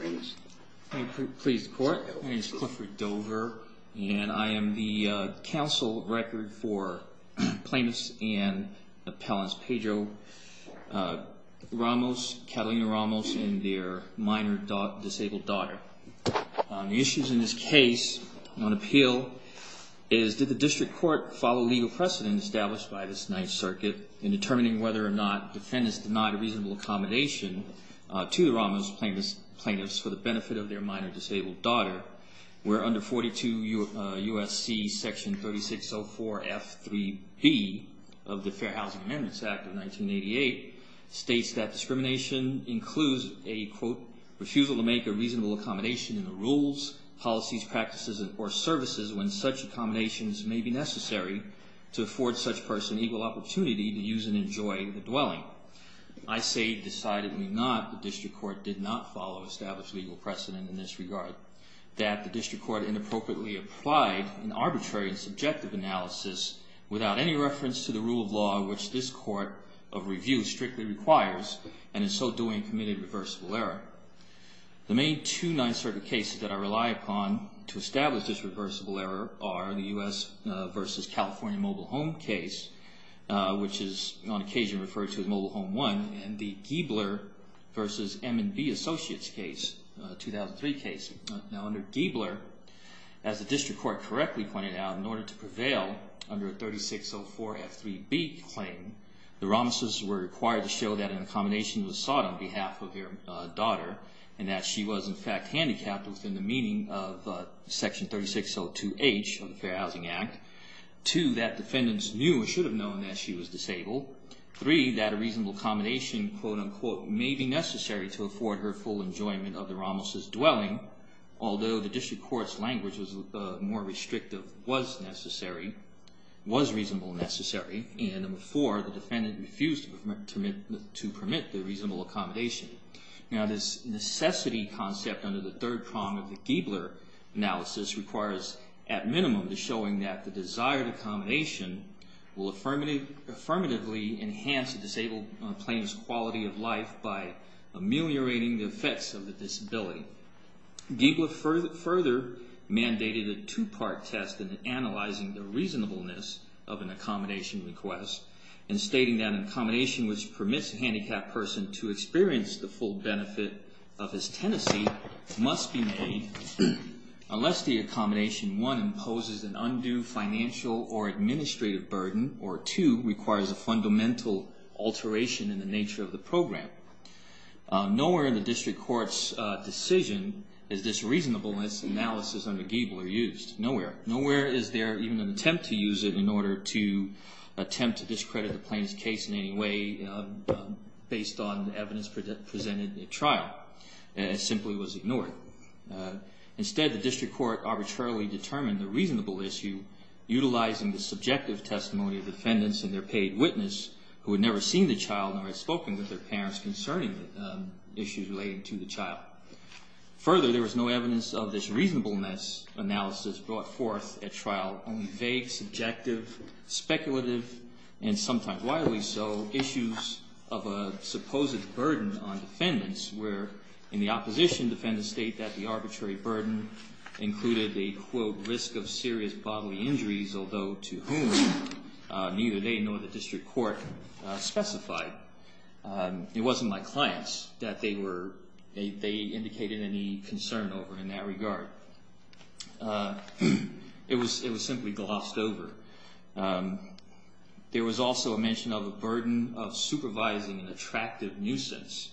My name is Clifford Dover and I am the counsel record for plaintiffs and appellants Pedro Ramos, Catalina Ramos and their minor disabled daughter. The issues in this case on appeal is did the district court follow legal precedent established by this Ninth Circuit in determining whether or not defendants denied a reasonable accommodation to the Ramos plaintiffs for the benefit of their minor disabled daughter where under 42 U.S.C. section 3604 F.3.B. of the Fair Housing Amendments Act of 1988 states that discrimination includes a quote refusal to make a reasonable accommodation in the rules policies practices and or services when such accommodations may be necessary to afford such person equal opportunity to use and enjoy the dwelling. I say decidedly not the district court did not follow established legal precedent in this regard that the district court inappropriately applied an arbitrary subjective analysis without any reference to the rule of law which this court of review strictly requires and in so doing committed reversible error. The main two Ninth Circuit cases that I rely upon to establish this reversible error are the U.S. versus California mobile home case which is on occasion referred to as Mobile Home 1 and the Giebler versus M&B Associates case, 2003 case. Now under Giebler as the district court correctly pointed out in order to prevail under 3604 F.3.B. claim the Ramoses were required to show that an accommodation was sought on behalf of their daughter and that she was in fact handicapped within the meaning of section 3602H of the Fair Housing Act. Two, that defendants knew or should have known that she was disabled. Three, that a reasonable accommodation quote-unquote may be necessary to afford her full enjoyment of the Ramoses dwelling although the district court's language was more restrictive was necessary, was reasonable necessary and four, the defendant refused to permit the reasonable accommodation. Now this necessity concept under the third prong of the Giebler analysis requires at minimum the showing that the desired accommodation will affirmatively enhance a disabled plaintiff's quality of life by ameliorating the effects of the disability. Giebler further mandated a two-part test in analyzing the reasonableness of an accommodation request and stating that an accommodation which permits a must be made unless the accommodation one, imposes an undue financial or administrative burden or two, requires a fundamental alteration in the nature of the program. Nowhere in the district court's decision is this reasonableness analysis under Giebler used. Nowhere. Nowhere is there even an attempt to use it in order to attempt to discredit the plaintiff's case in any way based on evidence presented at trial. It simply was ignored. Instead the district court arbitrarily determined the reasonable issue utilizing the subjective testimony of defendants and their paid witness who had never seen the child nor had spoken with their parents concerning issues relating to the child. Further, there was no evidence of this reasonableness analysis brought forth at trial, only vague, subjective, speculative, and sometimes wildly so, issues of a supposed burden on defendants where in the opposition defendants state that the arbitrary burden included a, quote, risk of serious bodily injuries, although to whom neither they nor the district court specified. It wasn't my clients that they were, they were. There was also a mention of a burden of supervising an attractive nuisance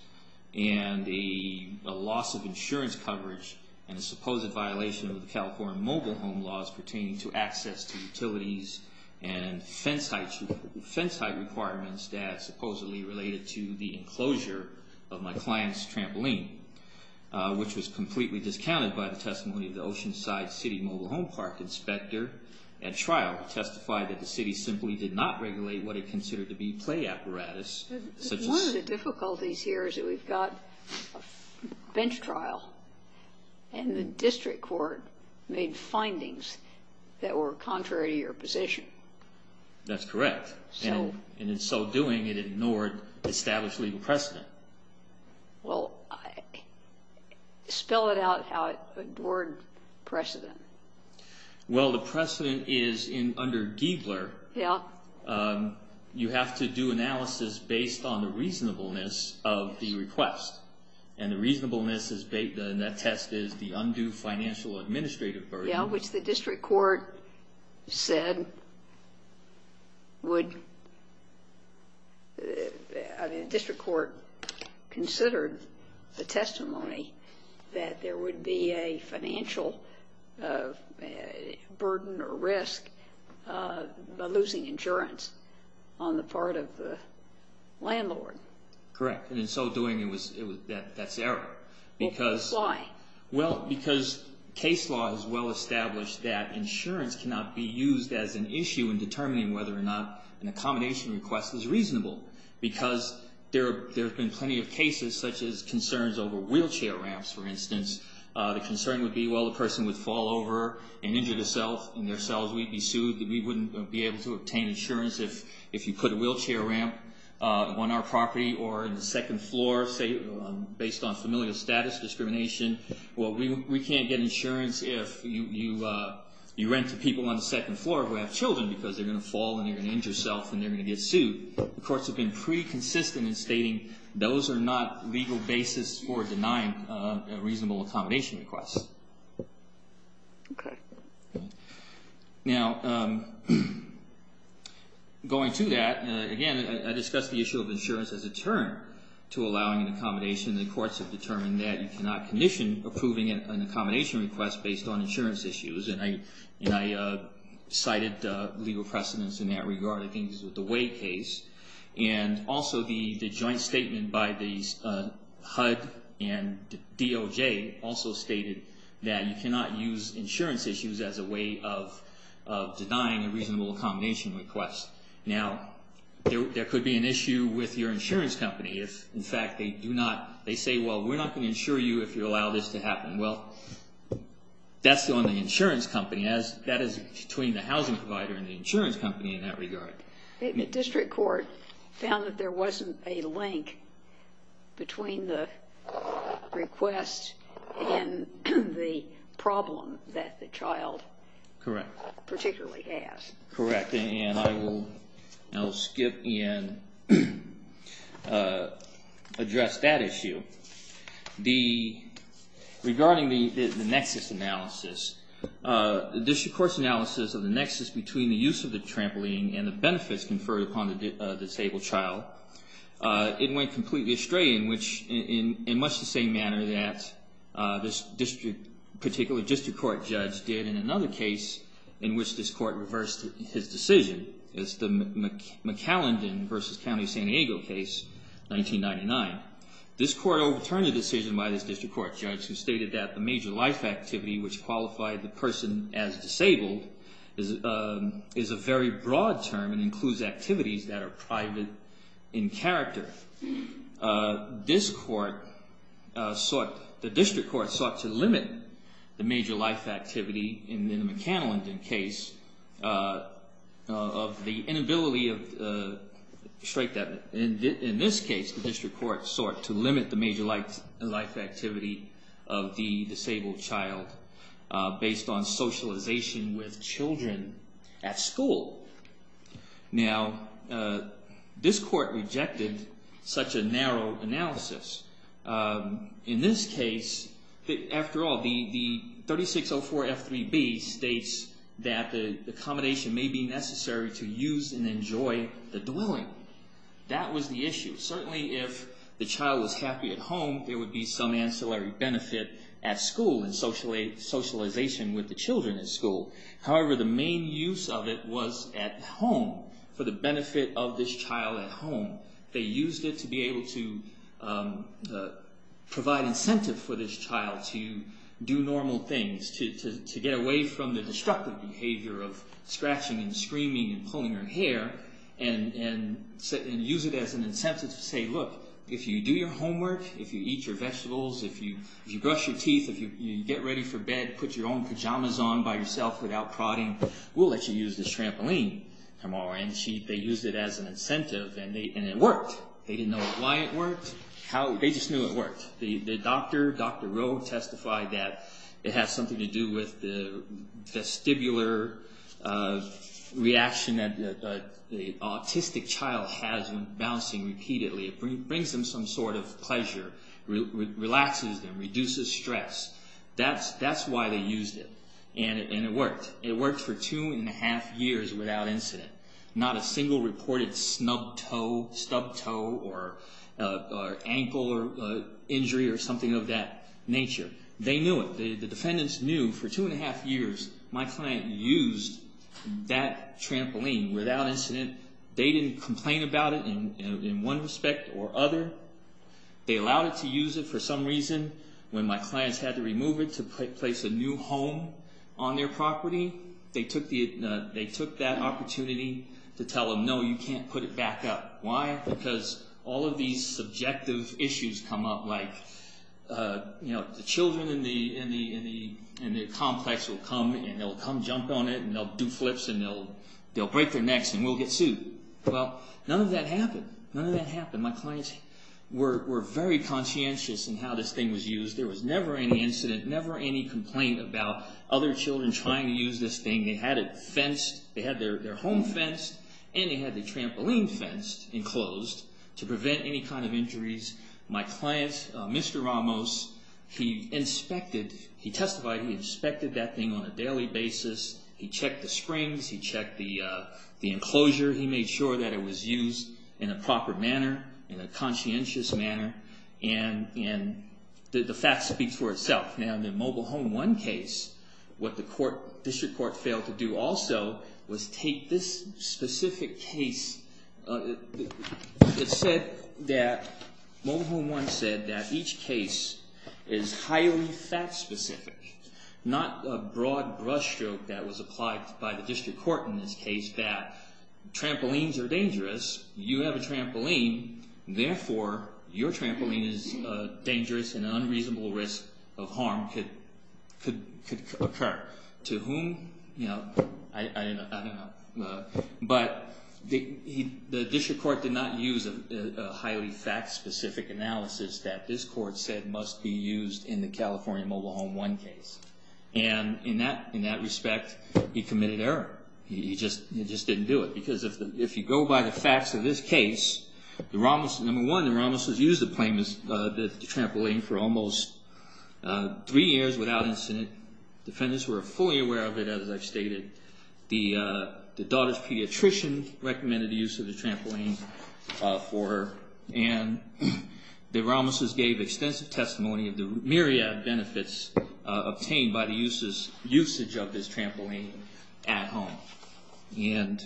and a loss of insurance coverage and a supposed violation of the California mobile home laws pertaining to access to utilities and fence height requirements that supposedly related to the enclosure of my client's trampoline, which was completely discounted by the testimony of the Oceanside City Mobile Home Park inspector at trial who testified that the city simply did not regulate what it considered to be play apparatus, such as one of the difficulties here is that we've got a bench trial and the district court made findings that were contrary to your position. That's correct. And in so doing, it ignored established legal precedent. Well, spell it out how it ignored precedent. Well, the precedent is under Giegler, you have to do analysis based on the reasonableness of the request, and the reasonableness in that test is the undue financial administrative burden. Which the district court said would, I mean, the district court considered the testimony that there would be a financial burden or risk by losing insurance on the part of the landlord. Correct. And in so doing, that's error. Why? Well, because case law is well-established that insurance cannot be used as an issue in determining whether or not an accommodation request is reasonable. Because there have been plenty of cases such as concerns over wheelchair ramps, for instance. The concern would be, well, the person would fall over and injure themselves, and their cells wouldn't be soothed, that we wouldn't be able to obtain insurance if you put a wheelchair ramp on our property or in the second floor for discrimination. Well, we can't get insurance if you rent to people on the second floor who have children, because they're going to fall and they're going to injure yourself and they're going to get sued. The courts have been pretty consistent in stating those are not legal basis for denying a reasonable accommodation request. Now, going to that, again, I discussed the issue of insurance as a term to condition approving an accommodation request based on insurance issues. And I cited legal precedents in that regard, I think it was with the Wade case. And also the joint statement by HUD and DOJ also stated that you cannot use insurance issues as a way of denying a reasonable accommodation request. Now, there could be an issue with your insurance company if, in fact, they do not want to insure you if you allow this to happen. Well, that's on the insurance company, as that is between the housing provider and the insurance company in that regard. District court found that there wasn't a link between the request and the problem that the child particularly has. Correct. And I will skip and address that issue. Regarding the nexus analysis, the district court's analysis of the nexus between the use of the trampoline and the benefits conferred upon the disabled child, it went completely astray in much the same manner that this district, particularly district court judge, did in another case in which this court reversed his decision. It's the McAllendon versus County of San Diego case, 1999. This court overturned the decision by this district court judge, who stated that the major life activity, which qualified the person as disabled, is a very broad term and includes activities that are private in character. This court sought, the district court sought to limit the major life activity in the McAllendon case of the inability of, strike that, in this case, the district court sought to limit the major life activity of the disabled child based on socialization with children at school. Now, this court rejected such a narrow analysis. In this case, after all, the 3604 F3B states that the accommodation may be necessary to use and enjoy the dwelling. That was the issue. Certainly, if the child was happy at home, there would be some ancillary benefit at school and socialization with the children at school. However, the main use of it was at home, for the benefit of this child at home. They used it to be able to provide incentive for this child to do normal things, to get away from the destructive behavior of scratching and screaming and hair, and use it as an incentive to say, look, if you do your homework, if you eat your vegetables, if you brush your teeth, if you get ready for bed, put your own pajamas on by yourself without prodding, we'll let you use this trampoline tomorrow. And they used it as an incentive and it worked. They didn't know why it worked, they just knew it worked. The doctor, Dr. Rowe, testified that it has something to do with the vestibular reaction that the autistic child has when bouncing repeatedly. It brings them some sort of pleasure, relaxes them, reduces stress. That's why they used it. And it worked. It worked for two and a half years without incident. Not a single reported snub toe, stub toe, or ankle injury or something of that nature. They knew it. The defendants knew for two and a half years my client used that trampoline without incident. They didn't complain about it in one respect or other. They allowed it to use it for some reason. When my clients had to remove it to place a new home on their property, they took that opportunity to tell them, no, you can't put it back up. Why? Because all of these subjective issues come up, like the children in the complex will come and they'll come jump on it and they'll do flips and they'll break their necks and we'll get sued. Well, none of that happened. None of that happened. My clients were very conscientious in how this thing was used. There was never any incident, never any complaint about other children trying to use this thing. They had it fenced. They had their home fenced and they had the trampoline fenced and closed to prevent any kind of injuries. My client, Mr. Ramos, he inspected, he testified, he inspected that thing on a daily basis. He checked the springs. He checked the enclosure. He made sure that it was used in a proper manner, in a conscientious manner, and the fact speaks for itself. Now, in the Mobile Home 1 case, what the court, district court failed to do also was take this specific case that said that, Mobile Home 1 said that each case is highly fact specific, not a broad brushstroke that was applied by the district court in this case, that trampolines are dangerous. You have a trampoline, therefore your trampoline is dangerous and an unreasonable risk of harm could occur. To whom? You know, I don't know, but the district court did not use a highly fact specific analysis that this court said must be used in the California Mobile Home 1 case. And in that respect, he committed error. He just didn't do it because if you go by the facts of this case, the Ramos, number three years without incident, defendants were fully aware of it, as I've stated. The daughter's pediatrician recommended the use of the trampoline for her, and the Ramoses gave extensive testimony of the myriad benefits obtained by the usage of this trampoline at home. And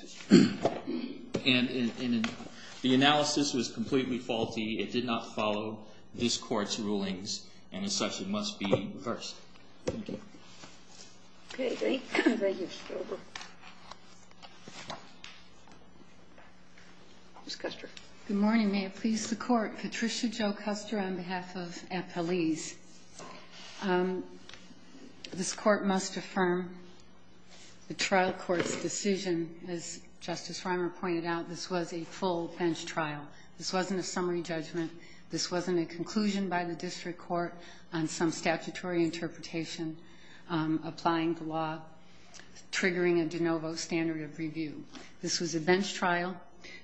the analysis was completely faulty. It did not follow this court's rulings, and as such, it must be reversed. Thank you. Okay, thank you, Mr. Gilbert. Ms. Custer. Good morning. May it please the Court. Patricia Jo Custer on behalf of FLE's. This court must affirm the trial court's decision, as Justice Reimer pointed out, this was a full bench trial. This wasn't a summary judgment. This wasn't a conclusion by the district court on some statutory interpretation applying the law, triggering a de novo standard of review. This was a bench trial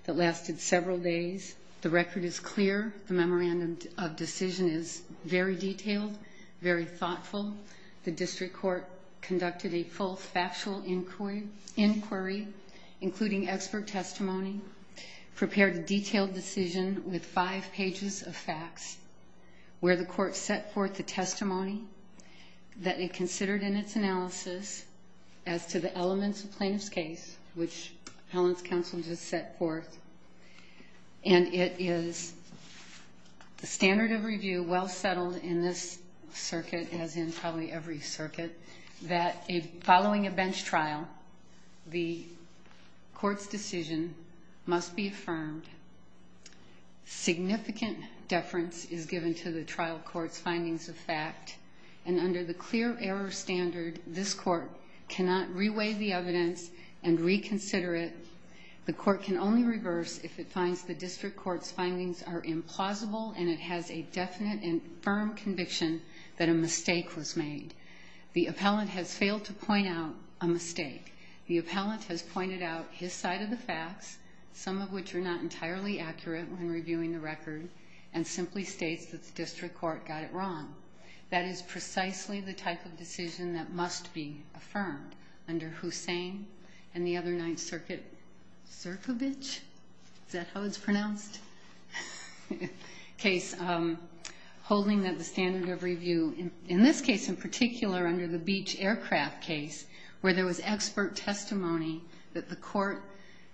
that lasted several days. The record is clear. The memorandum of decision is very detailed, very thoughtful. The district court conducted a full factual inquiry, including expert testimony, prepared a detailed decision with five pages of facts, where the court set forth the testimony that it considered in its analysis as to the elements of plaintiff's case, which Helen's counsel just set forth, and it is the standard of review well settled in this circuit, as in probably every must be affirmed. Significant deference is given to the trial court's findings of fact, and under the clear error standard, this court cannot reweigh the evidence and reconsider it. The court can only reverse if it finds the district court's findings are implausible and it has a definite and firm conviction that a mistake was made. The appellant has failed to point out a mistake. The appellant has pointed out his side of the facts, some of which are not entirely accurate when reviewing the record, and simply states that the district court got it wrong. That is precisely the type of decision that must be affirmed under Hussein and the other Ninth Circuit, Cirkovich, is that how it's pronounced? Case holding that the standard of review, in this case in particular, under the expert testimony that the court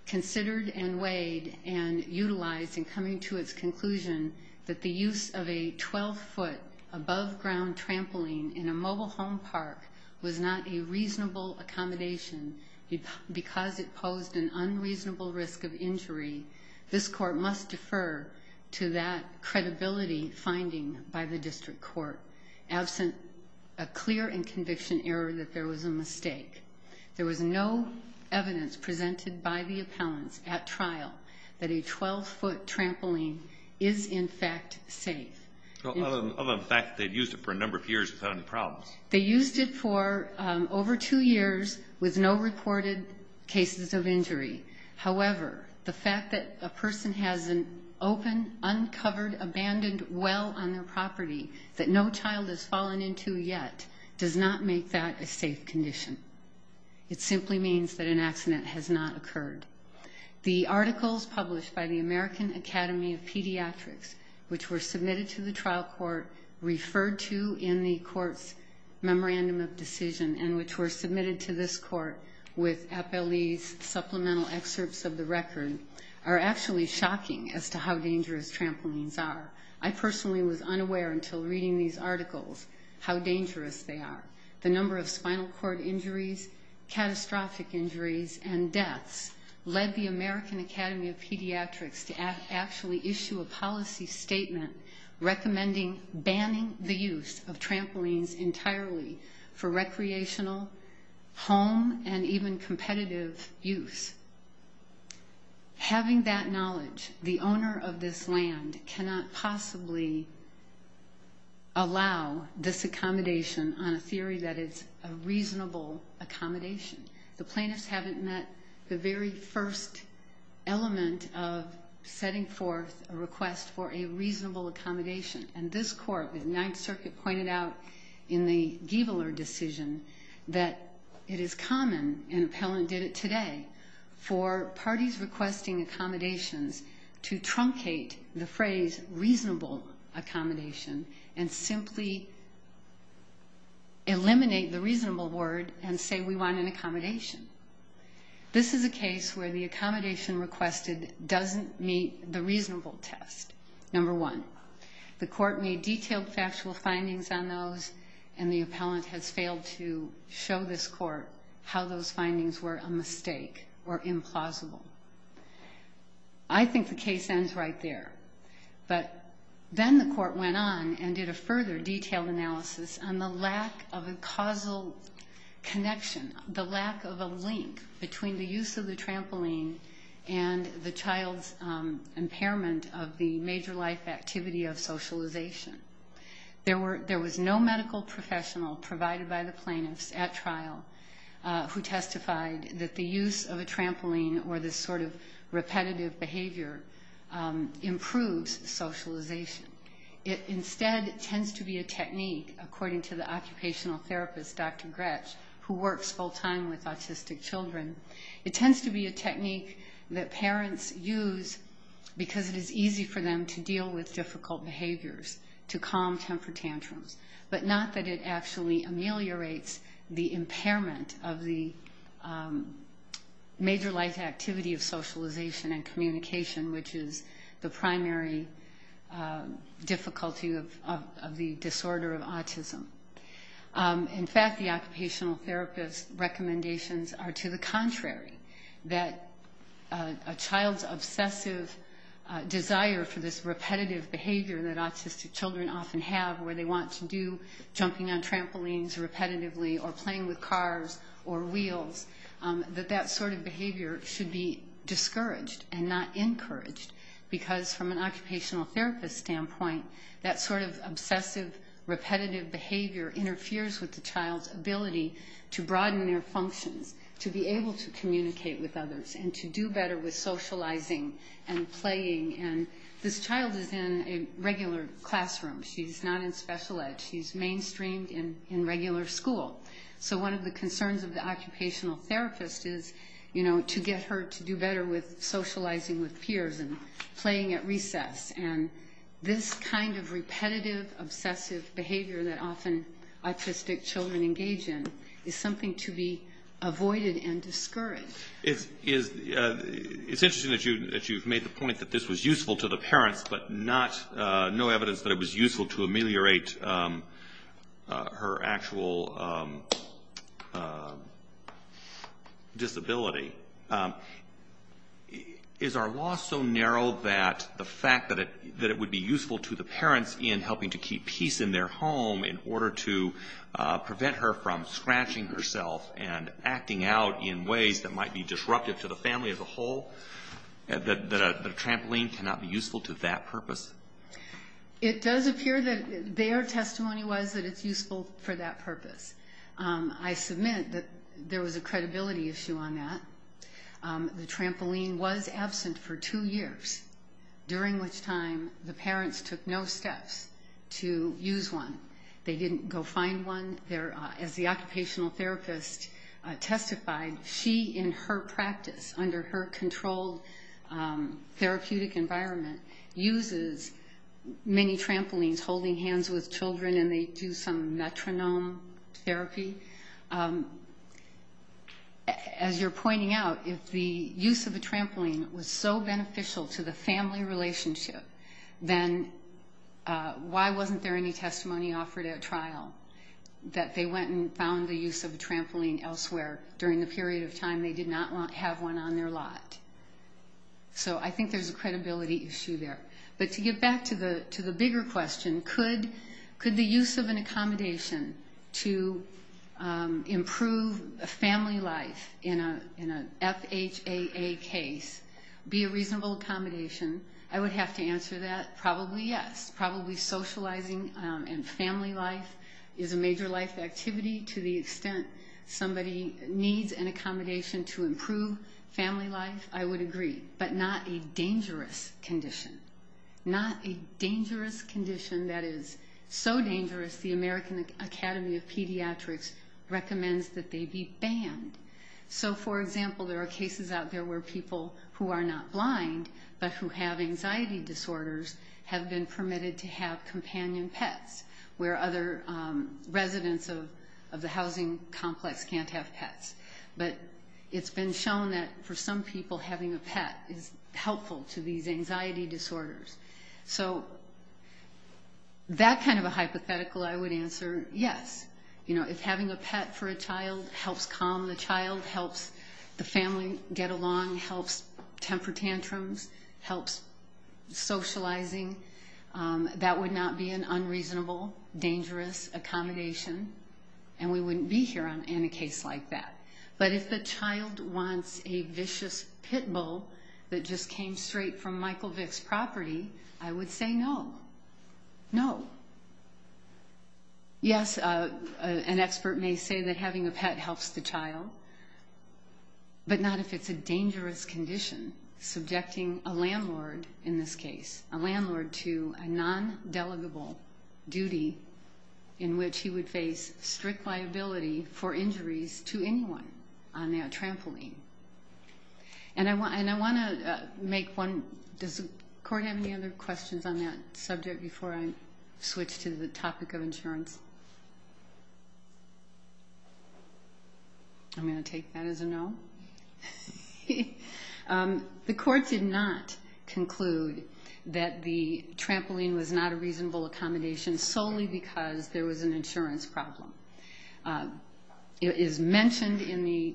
considered and weighed and utilized in coming to its conclusion that the use of a 12-foot above-ground trampoline in a mobile home park was not a reasonable accommodation because it posed an unreasonable risk of injury, this court must defer to that credibility finding by the district court absent a clear and conviction error that there was a mistake. There was no evidence presented by the appellants at trial that a 12-foot trampoline is, in fact, safe. Well, other than the fact that they've used it for a number of years without any problems. They used it for over two years with no reported cases of injury. However, the fact that a person has an open, uncovered, abandoned well on their property that no child has fallen into yet does not make that a safe condition. It simply means that an accident has not occurred. The articles published by the American Academy of Pediatrics, which were submitted to the trial court, referred to in the court's memorandum of decision, and which were submitted to this court with appellee's supplemental excerpts of the record, are actually shocking as to how dangerous trampolines are. I personally was unaware until reading these articles how dangerous they are. The number of spinal cord injuries, catastrophic injuries, and deaths led the American Academy of Pediatrics to actually issue a policy statement recommending banning the use of trampolines entirely for recreational, home, and even competitive use. Having that knowledge, the owner of this land cannot possibly allow this theory that it's a reasonable accommodation. The plaintiffs haven't met the very first element of setting forth a request for a reasonable accommodation. And this court, the Ninth Circuit, pointed out in the Giebeler decision that it is common, and appellant did it today, for parties requesting accommodations to truncate the phrase reasonable accommodation and simply eliminate the reasonable word and say we want an accommodation. This is a case where the accommodation requested doesn't meet the reasonable test. Number one, the court made detailed factual findings on those, and the appellant has failed to show this court how those findings were a mistake or implausible. I think the case ends right there. But then the court went on and did a further detailed analysis on the lack of a causal connection, the lack of a link between the use of the trampoline and the child's impairment of the major life activity of socialization. There was no medical professional provided by the plaintiffs at trial who testified that the use of a trampoline or this sort of repetitive behavior improves socialization. It instead tends to be a technique, according to the occupational therapist, Dr. Gretsch, who works full time with autistic children, it tends to be a technique that parents use because it is easy for them to deal with difficult behaviors, to calm temper tantrums, but not that it actually ameliorates the impairment of the major life activity of socialization and communication, which is the primary difficulty of the disorder of autism. In fact, the occupational therapist's recommendations are to the contrary, that a where they want to do jumping on trampolines repetitively or playing with cars or wheels, that that sort of behavior should be discouraged and not encouraged, because from an occupational therapist standpoint, that sort of obsessive, repetitive behavior interferes with the child's ability to broaden their functions, to be able to communicate with others and to do better with socializing and playing. And this child is in a regular classroom. She's not in special ed. She's mainstreamed in regular school. So one of the concerns of the occupational therapist is, you know, to get her to do better with socializing with peers and playing at recess. And this kind of repetitive, obsessive behavior that often autistic children engage in is something to be avoided and discouraged. It's interesting that you've made the point that this was useful to the parents, but no evidence that it was useful to ameliorate her actual disability. Is our law so narrow that the fact that it would be useful to the parents in helping to keep peace in their home in order to prevent her from scratching herself and acting out in ways that might be disruptive to the family as a whole, that a trampoline cannot be useful to that purpose? It does appear that their testimony was that it's useful for that purpose. I submit that there was a credibility issue on that. The trampoline was absent for two years, during which time the parents took no steps to use one. They didn't go find one there. As the occupational therapist testified, she in her practice, under her controlled therapeutic environment, uses many trampolines holding hands with children and they do some metronome therapy. As you're pointing out, if the use of a trampoline was so beneficial to the family relationship, then why wasn't there any testimony offered at trial that they went and found the use of a trampoline elsewhere during the period of time they did not have one on their lot? So I think there's a credibility issue there. But to get back to the bigger question, could the use of an accommodation to improve a family life in a FHAA case be a reasonable accommodation? I would have to answer that probably yes. Probably socializing and family life is a major life activity. To the extent somebody needs an accommodation to improve family life, I would agree. But not a dangerous condition. Not a dangerous condition that is so dangerous the American Academy of Pediatrics recommends that they be banned. So, for example, there are cases out there where people who are not blind but who have anxiety disorders have been permitted to have companion pets, where other residents of the housing complex can't have pets. But it's been shown that for some people, having a pet is helpful to these anxiety disorders. So that kind of a hypothetical, I would answer yes. You know, if having a pet for a child helps calm the child, helps the family get along, helps temper tantrums, helps socializing, that would not be an unreasonable, dangerous accommodation and we wouldn't be here in a case like that. But if the child wants a vicious pit bull that just came straight from Michael Vick's property, I would say no. No. Yes, an expert may say that having a pet helps the child. But not if it's a dangerous condition, subjecting a landlord in this case, a landlord to a non-delegable duty in which he would face strict liability for injuries to anyone on that trampoline. And I want to make one, does the court have any other questions on that subject before I switch to the topic of insurance? I'm going to take that as a no. The court did not conclude that the trampoline was not a reasonable accommodation solely because there was an insurance problem. It is mentioned in the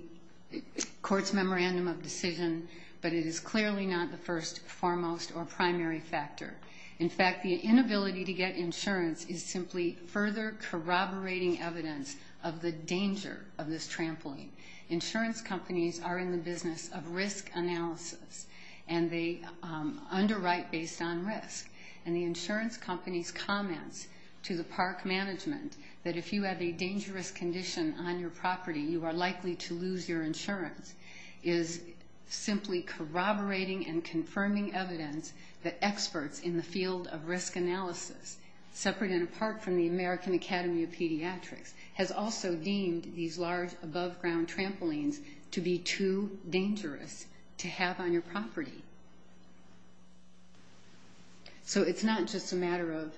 court's memorandum of decision, but it is clearly not the first, foremost, or primary factor. In fact, the inability to get insurance is simply further corroborating evidence of the danger of this trampoline. Insurance companies are in the business of risk analysis, and they underwrite based on risk. And the insurance company's comments to the park management that if you have a dangerous condition on your property, you are likely to lose your insurance, is simply corroborating and confirming evidence that experts in the field of risk analysis, separate and apart from the American Academy of Pediatrics, has also deemed these large ground trampolines to be too dangerous to have on your property. So it's not just a matter of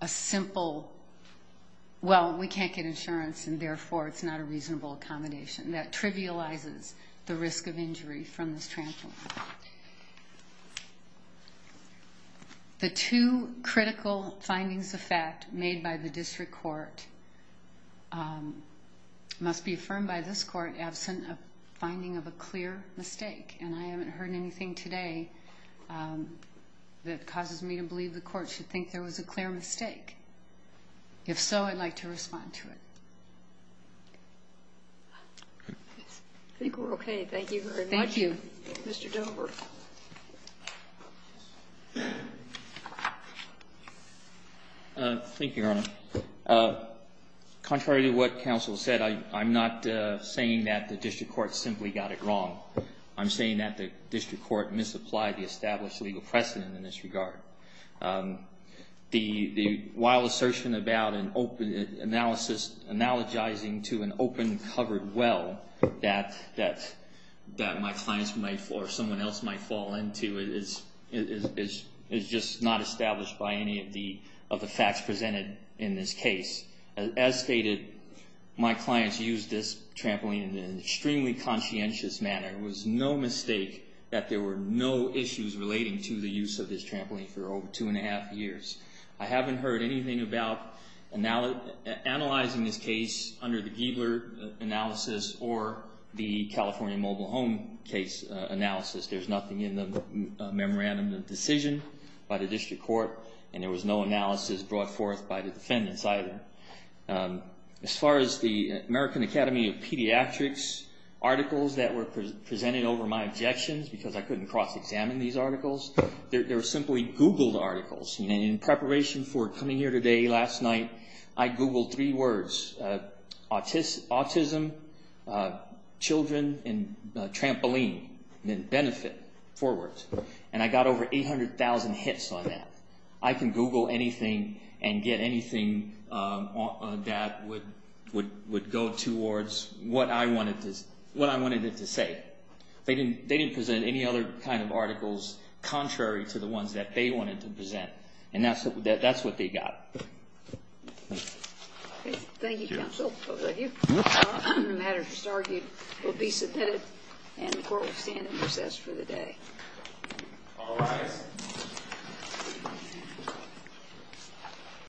a simple, well, we can't get insurance and therefore it's not a reasonable accommodation. That trivializes the risk of injury from this trampoline. The two critical findings of fact made by the district court must be affirmed by this court, absent a finding of a clear mistake. And I haven't heard anything today that causes me to believe the court should think there was a clear mistake. If so, I'd like to respond to it. I think we're OK. Thank you very much, Mr. Gilbert. Thank you, Your Honor. Contrary to what counsel said, I'm not saying that the district court simply got it wrong. I'm saying that the district court misapplied the established legal precedent in this regard. The wild assertion about an open analysis, analogizing to an open covered well that my clients or someone else might fall into is just not established by any of the facts presented in this case. As stated, my clients used this trampoline in an extremely conscientious manner. It was no mistake that there were no issues relating to the use of this trampoline for over two and a half years. I haven't heard anything about analyzing this case under the Giebler analysis or the California mobile home case analysis. There's nothing in the memorandum of decision by the district court and there was no analysis brought forth by the defendants either. As far as the American Academy of Pediatrics articles that were presented over my objections because I couldn't cross-examine these articles, they were simply Googled articles. In preparation for coming here today, last night, I Googled three words, autism, children, and trampoline, and then benefit, four words, and I got over 800,000 hits on that. I can Google anything and get anything that would go towards what I wanted it to say. They didn't present any other kind of articles contrary to the ones that they wanted to present, and that's what they got. Thank you, counsel. The matter is argued to be submitted and the court will stand in recess for the day.